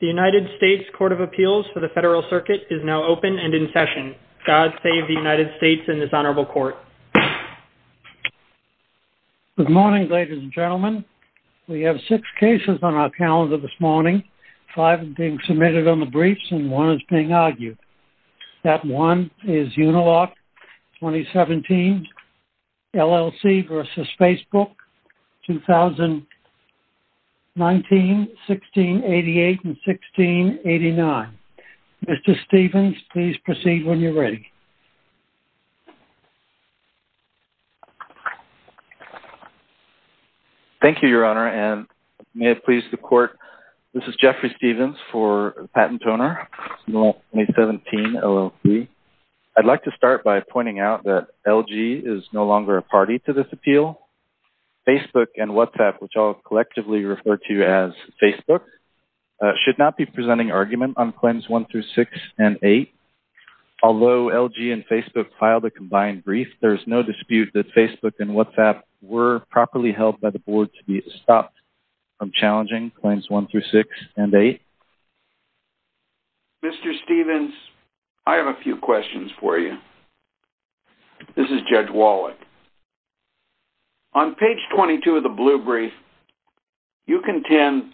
The United States Court of Appeals for the Federal Circuit is now open and in session. God save the United States and this honorable court. Good morning ladies and gentlemen. We have six cases on our calendar this morning. Five are being submitted on the briefs and one is being argued. That one is Uniloc 2017 LLC versus Facebook 2019, 1688, and 1689. Mr. Stephens, please proceed when you're ready. Thank you, Your Honor, and may it please the court. This is Jeffrey Stephens for PatentOwner, Uniloc 2017 LLC. I'd like to start by pointing out that LG is no longer a party to this appeal. Facebook and WhatsApp, which I'll collectively refer to as Facebook, should not be presenting argument on Claims 1 through 6 and 8. Although LG and Facebook filed a combined brief, there's no dispute that Facebook and WhatsApp were properly held by the board to be stopped from challenging Claims 1 through 6 and 8. Mr. Stephens, I have a couple of questions for you. This is Judge Wallach. On page 22 of the blue brief, you contend,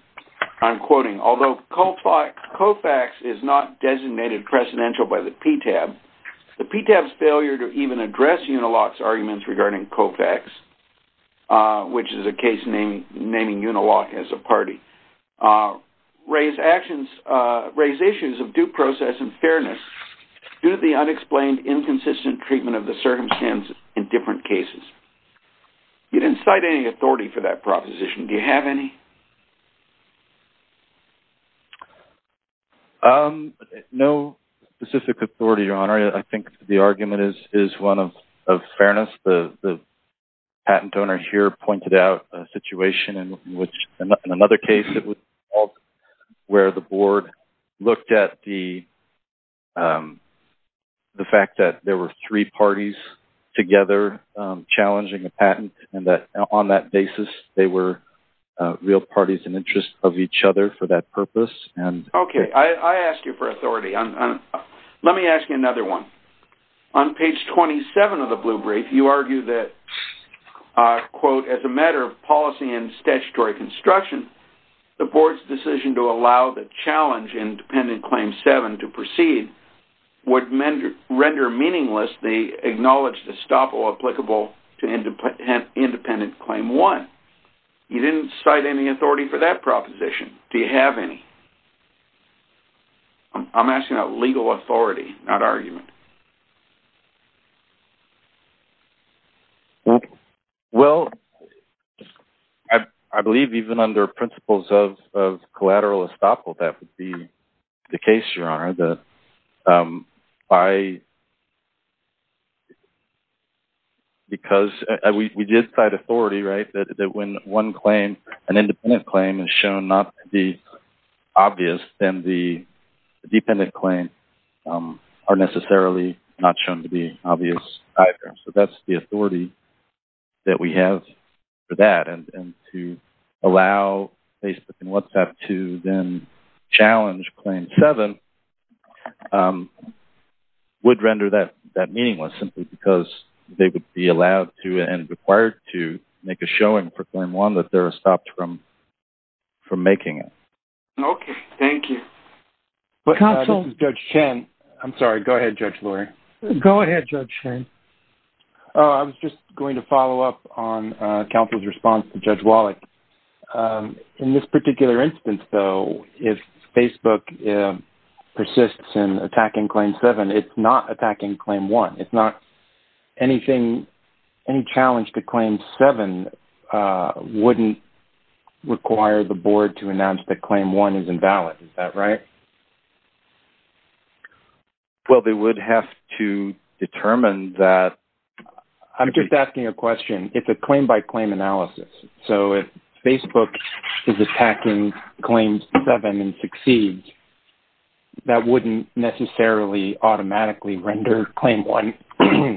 I'm quoting, although COFAX is not designated precedential by the PTAB, the PTAB's failure to even address Uniloc's arguments regarding COFAX, which is a case naming Uniloc as a party, raise actions, raise issues of due process and fairness due to the unexplained inconsistent treatment of the circumstances in different cases. You didn't cite any authority for that proposition. Do you have any? No specific authority, Your Honor. I think the argument is one of fairness. The patent owner here pointed out a situation in which, in another case, where the board looked at the fact that there were three parties together challenging a patent and that on that basis they were real parties in interest of each other for that purpose. Okay, I asked you for authority. Let me ask you another one. On page 27 of the blue brief, you construction, the board's decision to allow the challenge in Dependent Claim 7 to proceed would render meaningless the acknowledged estoppel applicable to Independent Claim 1. You didn't cite any authority for that proposition. Do you have any? I'm asking about legal authority, not argument. Well, I believe even under principles of collateral estoppel, that would be the case, Your Honor. We did cite authority, right, that when one claim, an independent claim, is shown not to be obvious, then the dependent claim are necessarily not shown to be obvious either. So that's the authority that we have for that, and to allow Facebook and WhatsApp to then challenge Claim 7 would render that meaningless simply because they would be allowed to and required to make a showing for Claim 1 that they're stopped from making it. Okay, thank you. This is Judge Chen. I'm sorry, go ahead, Judge on counsel's response to Judge Wallach. In this particular instance, though, if Facebook persists in attacking Claim 7, it's not attacking Claim 1. It's not anything, any challenge to Claim 7 wouldn't require the board to announce that Claim 1 is invalid. Is that right? Well, they would have to determine that. I'm just asking a question. It's a claim-by-claim analysis, so if Facebook is attacking Claim 7 and succeeds, that wouldn't necessarily automatically render Claim 1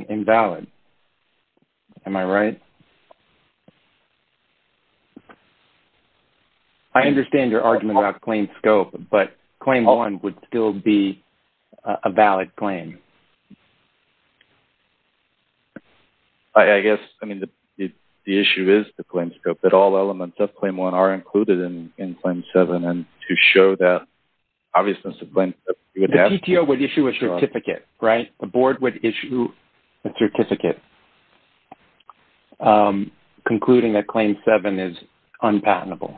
invalid. Am I right? I think Claim 1 would still be a valid claim. I guess, I mean, the issue is the claim scope, that all elements of Claim 1 are included in Claim 7, and to show that obviousness of Claim 7... The PTO would issue a certificate, right? The board would issue a certificate concluding that Claim 7 is unpatentable,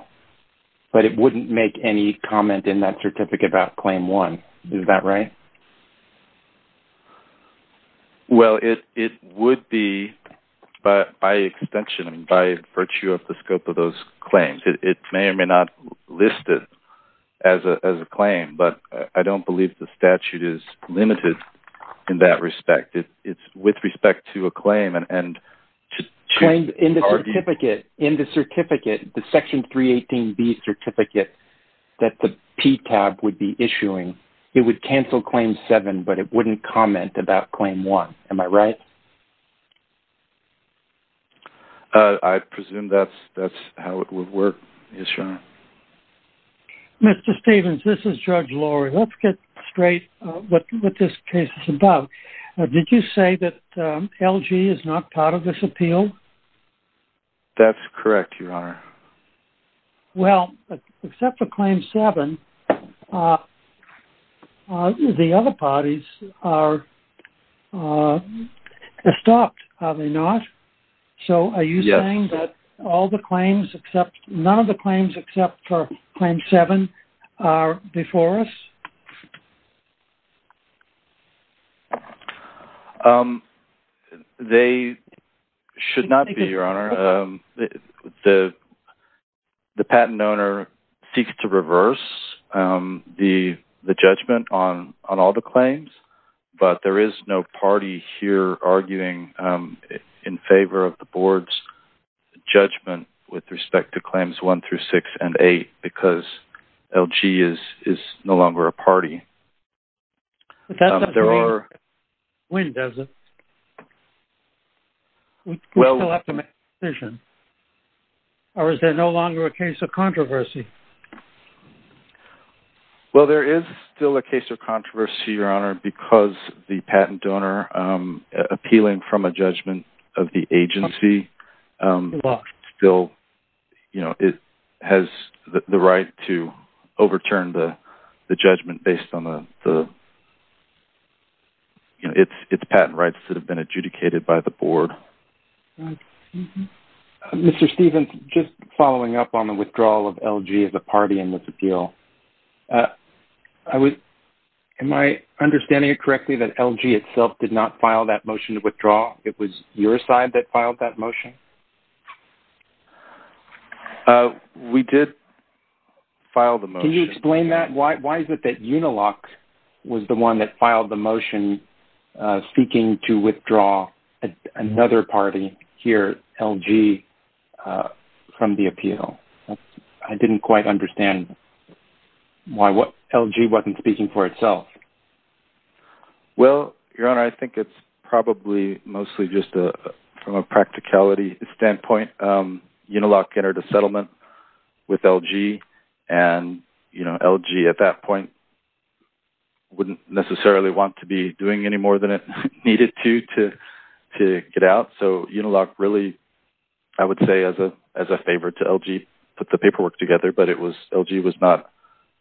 but it wouldn't make any comment in that certificate about Claim 1. Is that right? Well, it would be, but by extension, by virtue of the scope of those claims, it may or may not list it as a claim, but I don't believe the statute is limited in that respect. It's with respect to a claim and... In the certificate, in the that the PTAB would be issuing, it would cancel Claim 7, but it wouldn't comment about Claim 1. Am I right? I presume that that's how it would work. Yes, Your Honor. Mr. Stephens, this is Judge Lori. Let's get straight with what this case is about. Did you say that LG is not part of this appeal? That's correct, Your Honor. Well, except for Claim 7, the other parties are stopped, are they not? So, are you saying that all the claims except... none of the claims except for Claim 7 are before us? They should not be, Your Honor. The patent owner seeks to reverse the judgment on all the claims, but there is no party here arguing in favor of the board's judgment with respect to Claims 1 through 6 and 8 because LG is no longer a party. But that doesn't mean it wins, does it? We still have to make a decision. Or is there no longer a case of controversy? Well, there is still a case of controversy, Your Honor, because the patent donor, appealing from a judgment of the agency, still, you know, it has the right to overturn the judgment based on the, you know, its patent rights that have been adjudicated by the board. Mr. Stephens, just following up on the withdrawal of LG as a party in this appeal, am I understanding it correctly that LG itself did not file that motion to withdraw? It was your side that filed that motion? We did file the motion. Can you explain that? Why is it that Unilock was the one that filed the motion speaking to withdraw another party here, LG, from the appeal? I didn't quite understand why LG wasn't speaking for itself. Well, Your Honor, I think it's probably mostly just from a practicality standpoint. Unilock entered a settlement with LG and, you know, LG at that point wouldn't necessarily want to be doing any more than it needed to to get out. So Unilock really, I would say, as a favor to LG, put the paperwork together, but LG was not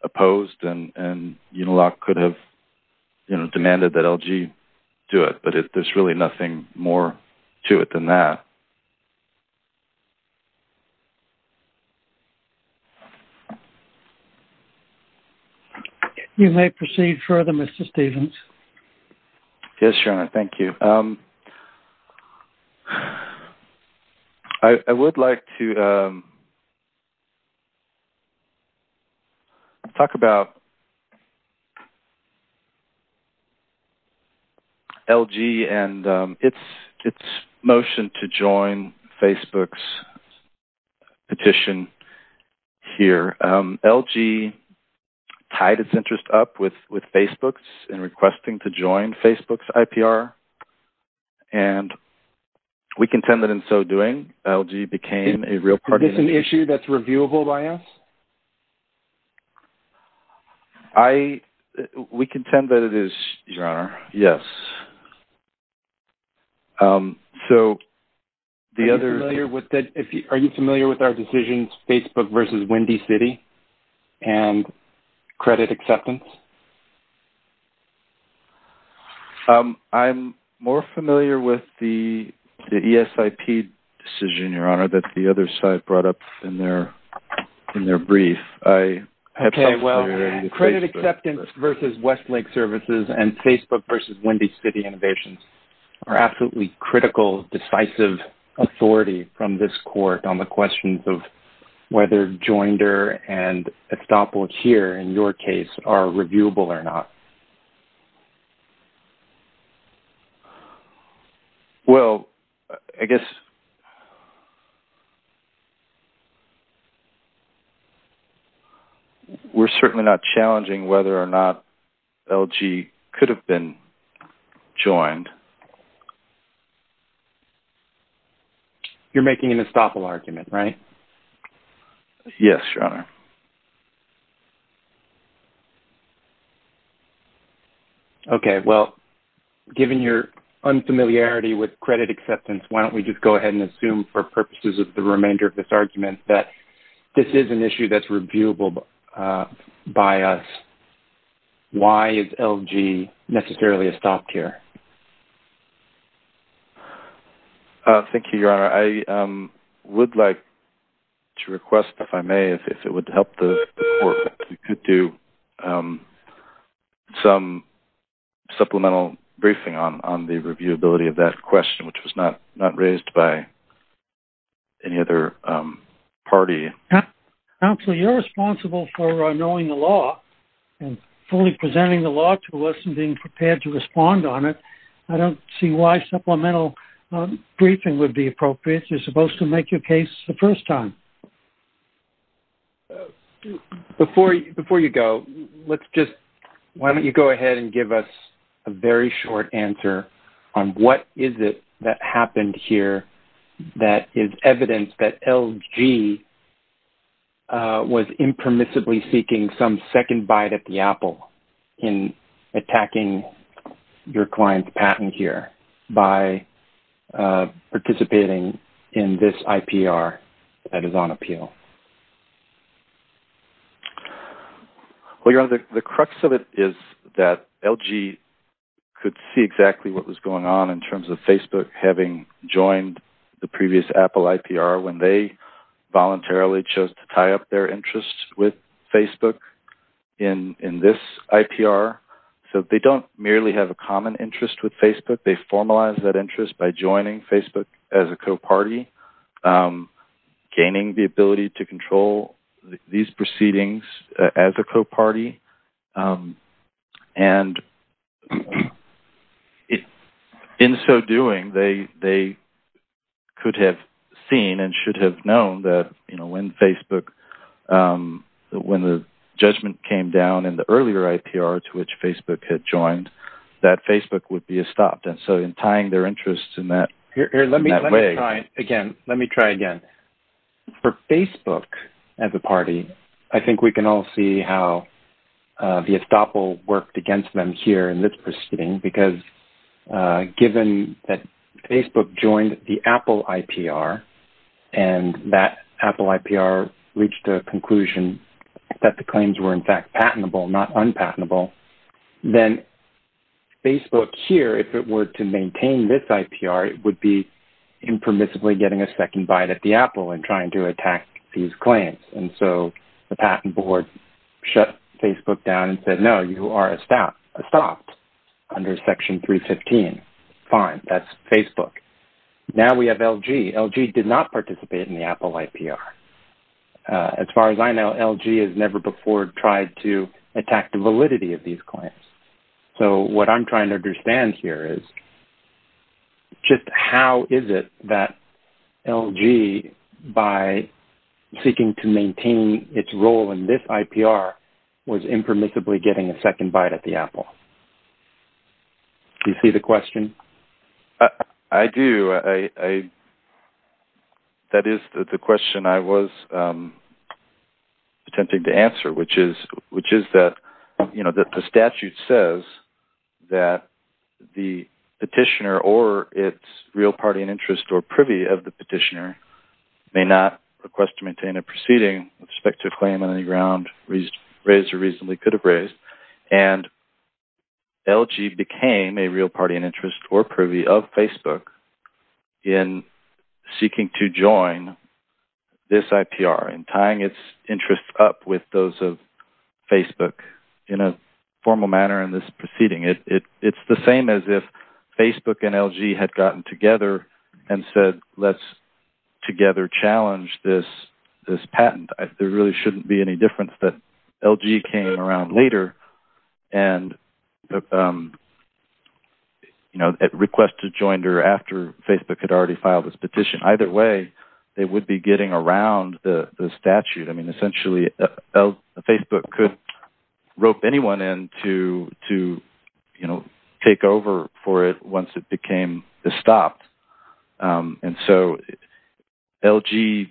opposed and Unilock could have, you know, demanded that LG do it, but there's really nothing more to it than that. You may proceed further, Mr. Stephens. Yes, Your Honor, thank you. I would like to talk about LG and its motion to join Facebook's petition here. LG tied its interest up with with Facebook's in requesting to join Facebook's IPR and we contended in so doing LG became a real party. Is this an issue that's reviewable by Congress? I, we contend that it is, Your Honor, yes. So the other... Are you familiar with our decisions, Facebook versus Windy City and credit acceptance? I'm more familiar with the ESIP decision, Your Honor, that the other side brought up in their, in their brief. I have some familiarity with Facebook. Okay, well, credit acceptance versus Westlake services and Facebook versus Windy City innovations are absolutely critical, decisive authority from this court on the questions of whether Joindr and Estoppel here, in your case, are Well, I guess we're certainly not challenging whether or not LG could have been joined. You're making an Estoppel argument, right? Yes, Your Honor. Okay, well, given your unfamiliarity with credit acceptance, why don't we just go ahead and assume for purposes of the remainder of this argument that this is an issue that's reviewable by us. Why is LG necessarily a stop here? Thank you, Your Honor. I would like to request, if I may, if it would help the court to do some supplemental briefing on the reviewability of that question, which was not not raised by any other party. Counselor, you're responsible for knowing the law and fully presenting the law to us and being prepared to respond on it. I don't see why supplemental briefing would be appropriate. You're supposed to make your case the first time. Before you go, let's just, why don't you go ahead and give us a very short answer on what is it that happened here that is evidence that LG was impermissibly seeking some second bite at the apple in attacking your client's patent here by participating in this IPR that is on appeal? Well, Your Honor, the crux of it is that LG could see exactly what was going on in terms of Facebook having joined the previous Apple IPR when they voluntarily chose to tie up their interests with Facebook in this IPR, so they don't merely have a common interest with Facebook. They formalize that interest by joining Facebook as a co-party, gaining the ability to control these proceedings as a co-party, and in so doing, they could have seen and should have known that, you know, when Facebook, when the judgment came down in the earlier IPR to which Facebook had joined, that Facebook would be stopped, and so in tying their interests in that way... Here, let me try again. Let me try again. For Facebook as a party, I think we can all see how the estoppel worked against them here in this proceeding, because given that Facebook joined the Apple IPR, and that Apple IPR reached a conclusion that the claims were, in fact, patentable, not unpatentable, then Facebook here, if it were to maintain this IPR, it would be impermissibly getting a second bite at the apple and trying to attack these claims, and so the patent board shut Facebook down and said, no, you are estopped under Section 315. Fine. That's Facebook. Now we have LG. LG did not participate in the Apple IPR. As far as I know, LG has never before tried to attack the validity of these claims, so what I'm trying to understand here is just how is it that LG, by seeking to maintain its role in this IPR, was impermissibly getting a second bite at the apple? Do you see the question? I do. That is the question I was attempting to answer, which is that, you know, that the statute says that the petitioner or its real party in interest or privy of the petitioner may not request to maintain a proceeding with the patent. That's the question I really could have raised, and LG became a real party in interest or privy of Facebook in seeking to join this IPR and tying its interests up with those of Facebook in a formal manner in this proceeding. It's the same as if Facebook and LG had gotten together and said, let's together challenge this patent. There really shouldn't be any difference that LG came around later and, you know, at request to join her after Facebook had already filed this petition. Either way, they would be getting around the statute. I mean, essentially, Facebook could rope anyone in to, you know, take over for it once it became stopped, and so LG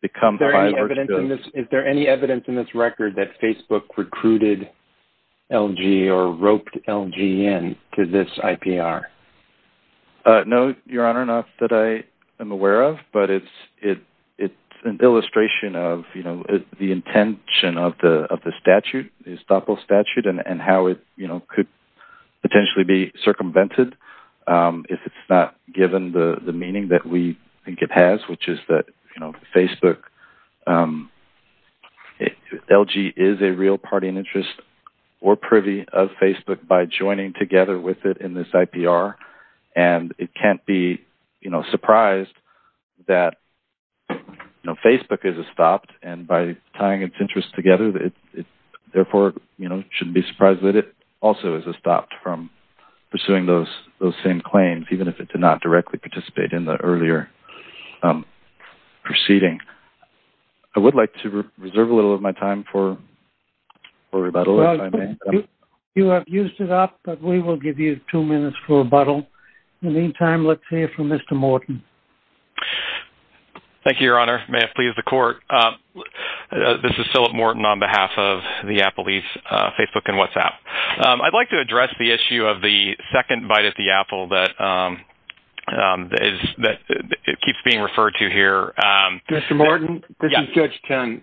becomes... Is there any evidence in this record that Facebook recruited LG or roped LG in to this IPR? No, Your Honor, not that I am aware of, but it's an illustration of, you know, the intention of the statute, the estoppel statute, and how it, you know, could potentially be circumvented if it's not given the meaning that we think it has, which is that, you know, Facebook... LG is a real party and interest or privy of Facebook by joining together with it in this IPR, and it can't be, you know, surprised that, you know, Facebook is estopped, and by tying its interests together, it therefore, you know, shouldn't be surprised that it also is estopped from pursuing those same claims, even if it did not directly participate in the proceeding. I would like to reserve a little of my time for rebuttal. You have used it up, but we will give you two minutes for rebuttal. In the meantime, let's hear from Mr. Morton. Thank you, Your Honor. May it please the Court. This is Philip Morton on behalf of the Apple Leafs, Facebook, and WhatsApp. I'd like to address the issue of the second bite at the apple that is... that it keeps being referred to here. Mr. Morton, this is Judge Chun.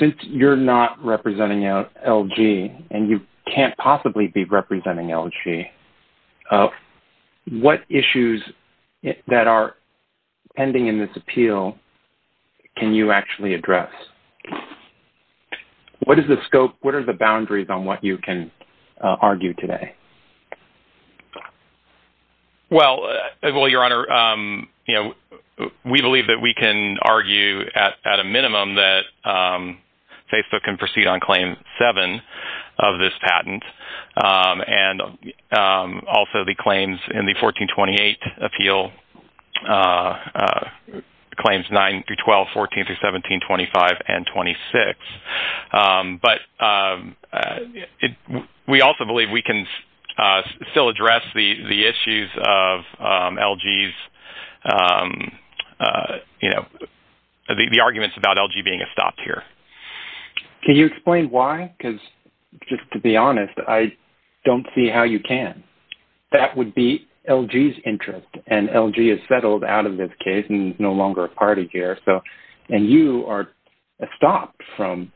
Since you're not representing LG, and you can't possibly be representing LG, what issues that are pending in this appeal can you actually address? What is the scope? What are the boundaries on what you can argue today? Well, well, Your Honor, you know, we believe that we can argue at a minimum that Facebook can proceed on Claim 7 of this patent, and also the claims in the 1428 appeal, claims 9 through 12, 14 through 17, 25, and 26, but we also believe we can still address the the issues of LG's, you know, the arguments about LG being a stop here. Can you explain why? Because, just to be honest, I don't see how you can. That would be LG's interest, and LG is settled out of this case, and is no longer a party here, so... and you are stopped from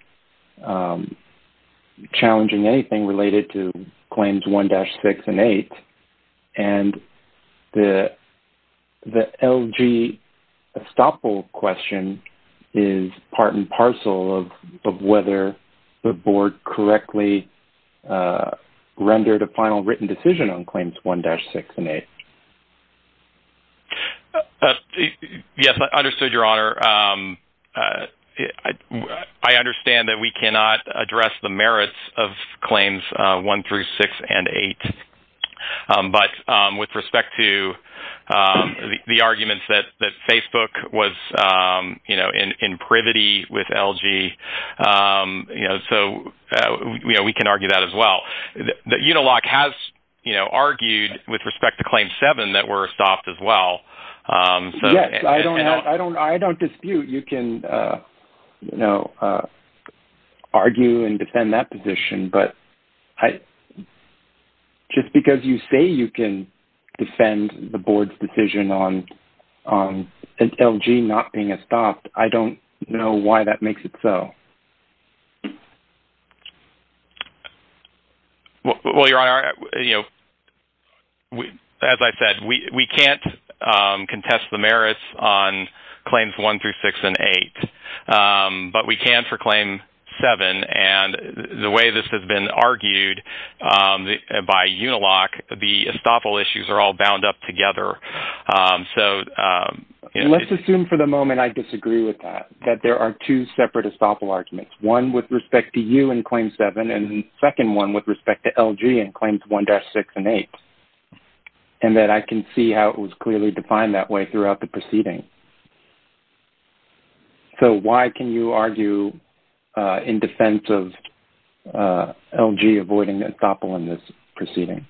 challenging anything related to Claims 1-6 and 8, and the LG estoppel question is part and parcel of whether the board correctly rendered a final written decision on Claims 1-6 and 8. Yes, I understood, Your Honor. I understand that we cannot address the merits of Claims 1 through 6 and 8, but with respect to the arguments that Facebook was, you know, in privity with LG, you know, Unilock has, you know, argued with respect to Claim 7 that we're estopped as well. Yes, I don't dispute you can, you know, argue and defend that position, but just because you say you can defend the board's decision on LG not being itself. Well, Your Honor, you know, as I said, we can't contest the merits on Claims 1 through 6 and 8, but we can for Claim 7, and the way this has been argued by Unilock, the estoppel issues are all bound up together, so... Let's assume for the moment I disagree with that, that there are two separate estoppel arguments, one with respect to you and Claim 7, and second one with respect to LG and Claims 1-6 and 8, and that I can see how it was clearly defined that way throughout the proceeding. So why can you argue in defense of LG avoiding the estoppel in this proceeding?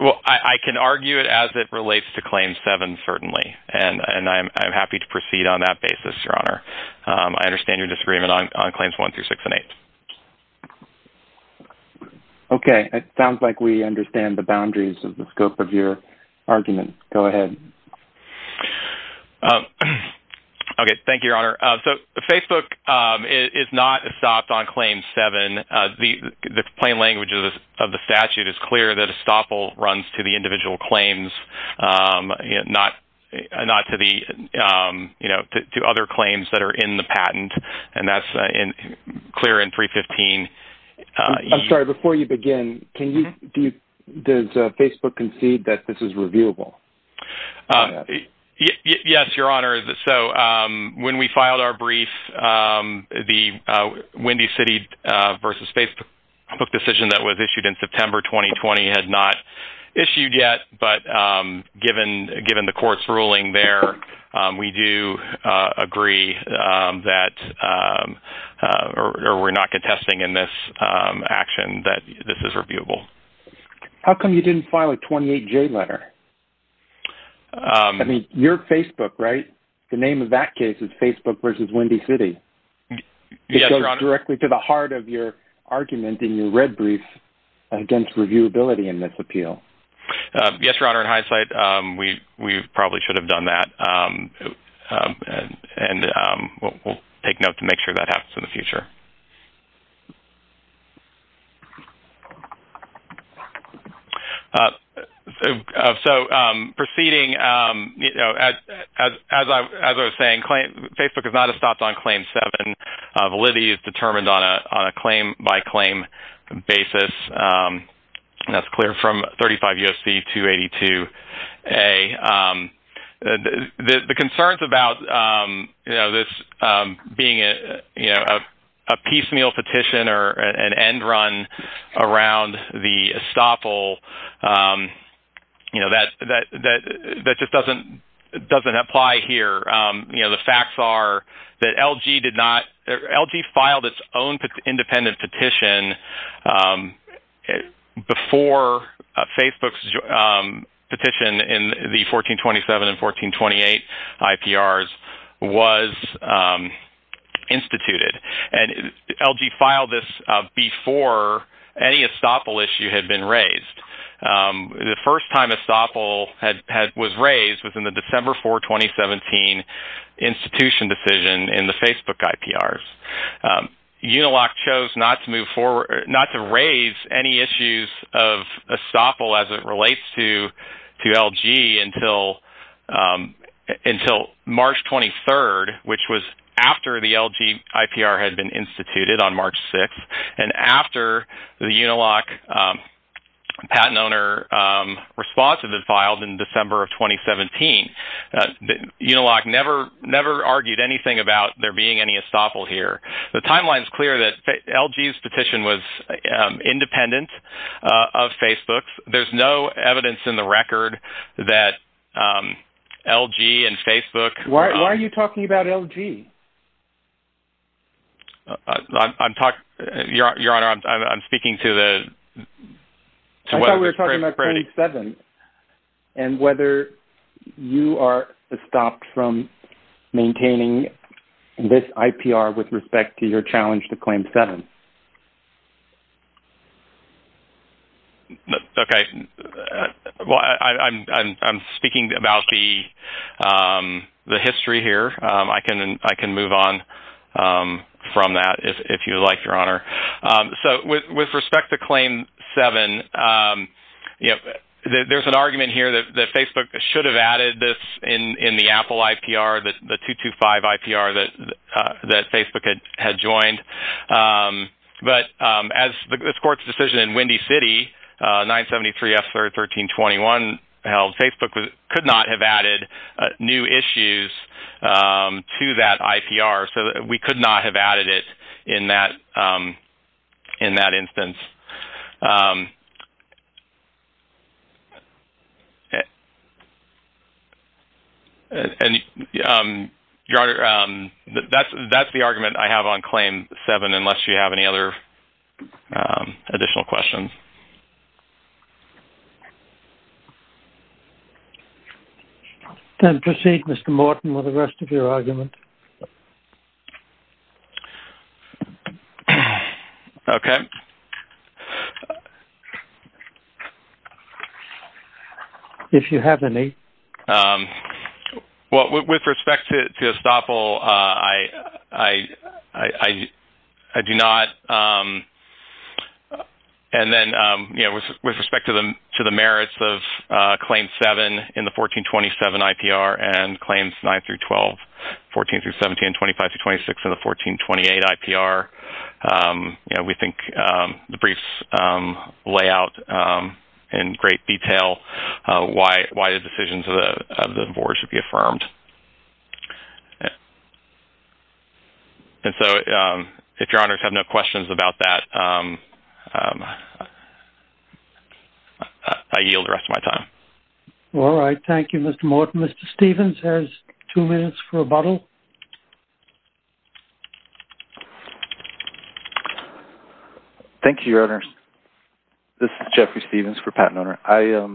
Well, I can argue it as it relates to Claim 7, certainly, and I'm happy to proceed on that basis, Your Honor. I understand your disagreement on Claims 1 through 6 and 8. Okay, it sounds like we understand the boundaries of the scope of your argument. Go ahead. Okay, thank you, Your Honor. So Facebook is not estopped on Claim 7. The plain language of the statute is clear that estoppel runs to the individual claims and not to the, you know, to other claims that are in the patent, and that's clear in 315. I'm sorry, before you begin, does Facebook concede that this is reviewable? Yes, Your Honor. So when we filed our brief, the Windy City versus Facebook decision that was issued in September 2020 had not issued yet, but given the court's ruling there, we do agree that, or we're not contesting in this action, that this is reviewable. How come you didn't file a 28J letter? I mean, you're Facebook, right? The name of that case is Facebook versus Windy City. It goes directly to the heart of your argument in your red brief against reviewability in this appeal. Yes, Your Honor. In hindsight, we probably should have done that, and we'll take note to make sure that happens in the future. So proceeding, you know, as I was saying, Facebook is not stopped on Claim 7. Validity is determined on a claim-by-claim basis. That's clear from 35 U.S.C. 282A. The concerns about, you know, this being a, you know, a piecemeal petition or an end run around the estoppel, you know, that just doesn't apply here. You know, the facts are that LG did not, LG filed its own independent petition before Facebook's petition in the 1427 and 1428 IPRs was instituted, and LG filed this before any estoppel issue had been raised within the December 4, 2017 institution decision in the Facebook IPRs. Uniloc chose not to move forward, not to raise any issues of estoppel as it relates to LG until March 23rd, which was after the LG IPR had been instituted on March 6th, and after the Uniloc patent owner responsive that was issued in December of 2017. Uniloc never argued anything about there being any estoppel here. The timeline is clear that LG's petition was independent of Facebook's. There's no evidence in the record that LG and Facebook- Why are you talking about LG? I'm talking- Your Honor, I'm speaking to the- And whether you are stopped from maintaining this IPR with respect to your challenge to claim seven. Okay, well, I'm speaking about the history here. I can move on from that if you like, Your Honor. So, with respect to there's an argument here that Facebook should have added this in the Apple IPR, the 225 IPR that Facebook had joined, but as this court's decision in Windy City, 973 F 1321 held, Facebook could not have added new issues to that IPR. And, Your Honor, that's the argument I have on claim seven, unless you have any other additional questions. Then proceed, Mr. Morton, with the rest of your argument. Okay. If you have any. Well, with respect to estoppel, I do not. And then, you know, with respect to the merits of claim seven in the 1427 IPR and claims nine through 12, 14 through 17, 25 through 26 of the 1428 IPR, you know, we think the briefs lay out in great detail why the decisions of the board should be affirmed. And so, if Your Honors have no questions about that, I yield the rest of the time. All right. Thank you, Mr. Morton. Mr. Stevens has two minutes for a rebuttal. Thank you, Your Honors. This is Jeffrey Stevens for Patent Owner. I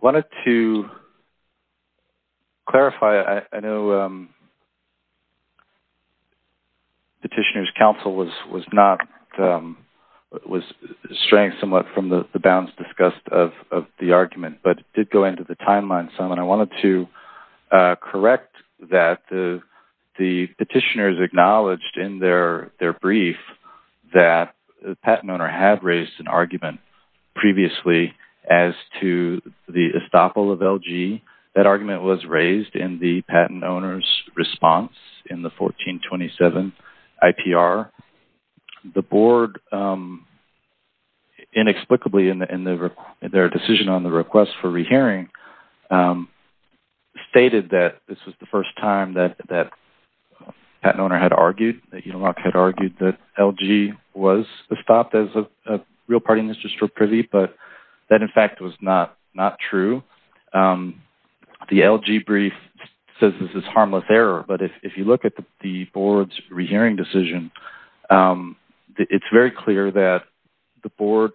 wanted to clarify. I know Petitioner's Counsel was not, was straying somewhat from the argument, but it did go into the timeline somewhat. I wanted to correct that the petitioners acknowledged in their brief that the patent owner had raised an argument previously as to the estoppel of LG. That argument was raised in the patent owner's response in the 1427 IPR. The board, inexplicably, in their decision on the request for rehearing, stated that this was the first time that that patent owner had argued, that he had argued that LG was estopped as a real party in this just for privy, but that in fact was not not true. The LG brief says this is harmless error, but if you look at the board's rehearing decision, it's very clear that the board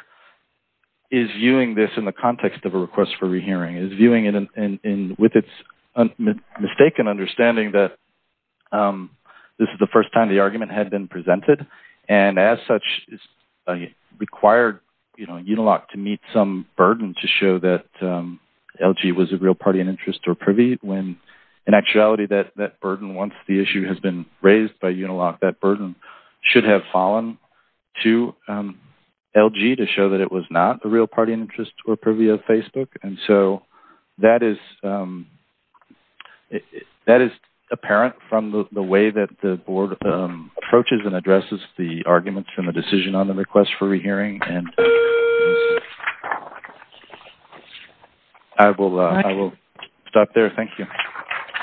is viewing this in the context of a request for rehearing, is viewing it with its mistaken understanding that this is the first time the argument had been presented, and as such required, you know, Uniloc to meet some burden to show that LG was a real party in interest or privy, when in actuality that burden, once the issue has been raised by Uniloc, has fallen to LG to show that it was not a real party in interest or privy of Facebook, and so that is apparent from the way that the board approaches and addresses the arguments from the decision on the request for rehearing, and I will stop there. Thank you.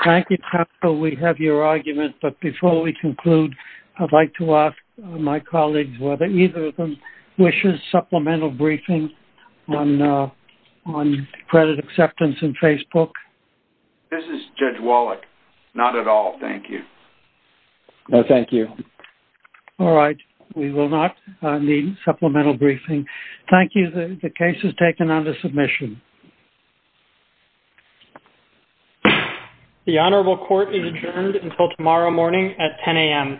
Thank you. We have your argument, but before we conclude, I'd like to ask my colleagues whether either of them wishes supplemental briefing on credit acceptance in Facebook? This is Judge Wallach. Not at all. Thank you. No, thank you. All right. We will not need supplemental briefing. Thank you. The case is taken under submission. The hearing is adjourned until the next hearing at 10 a.m.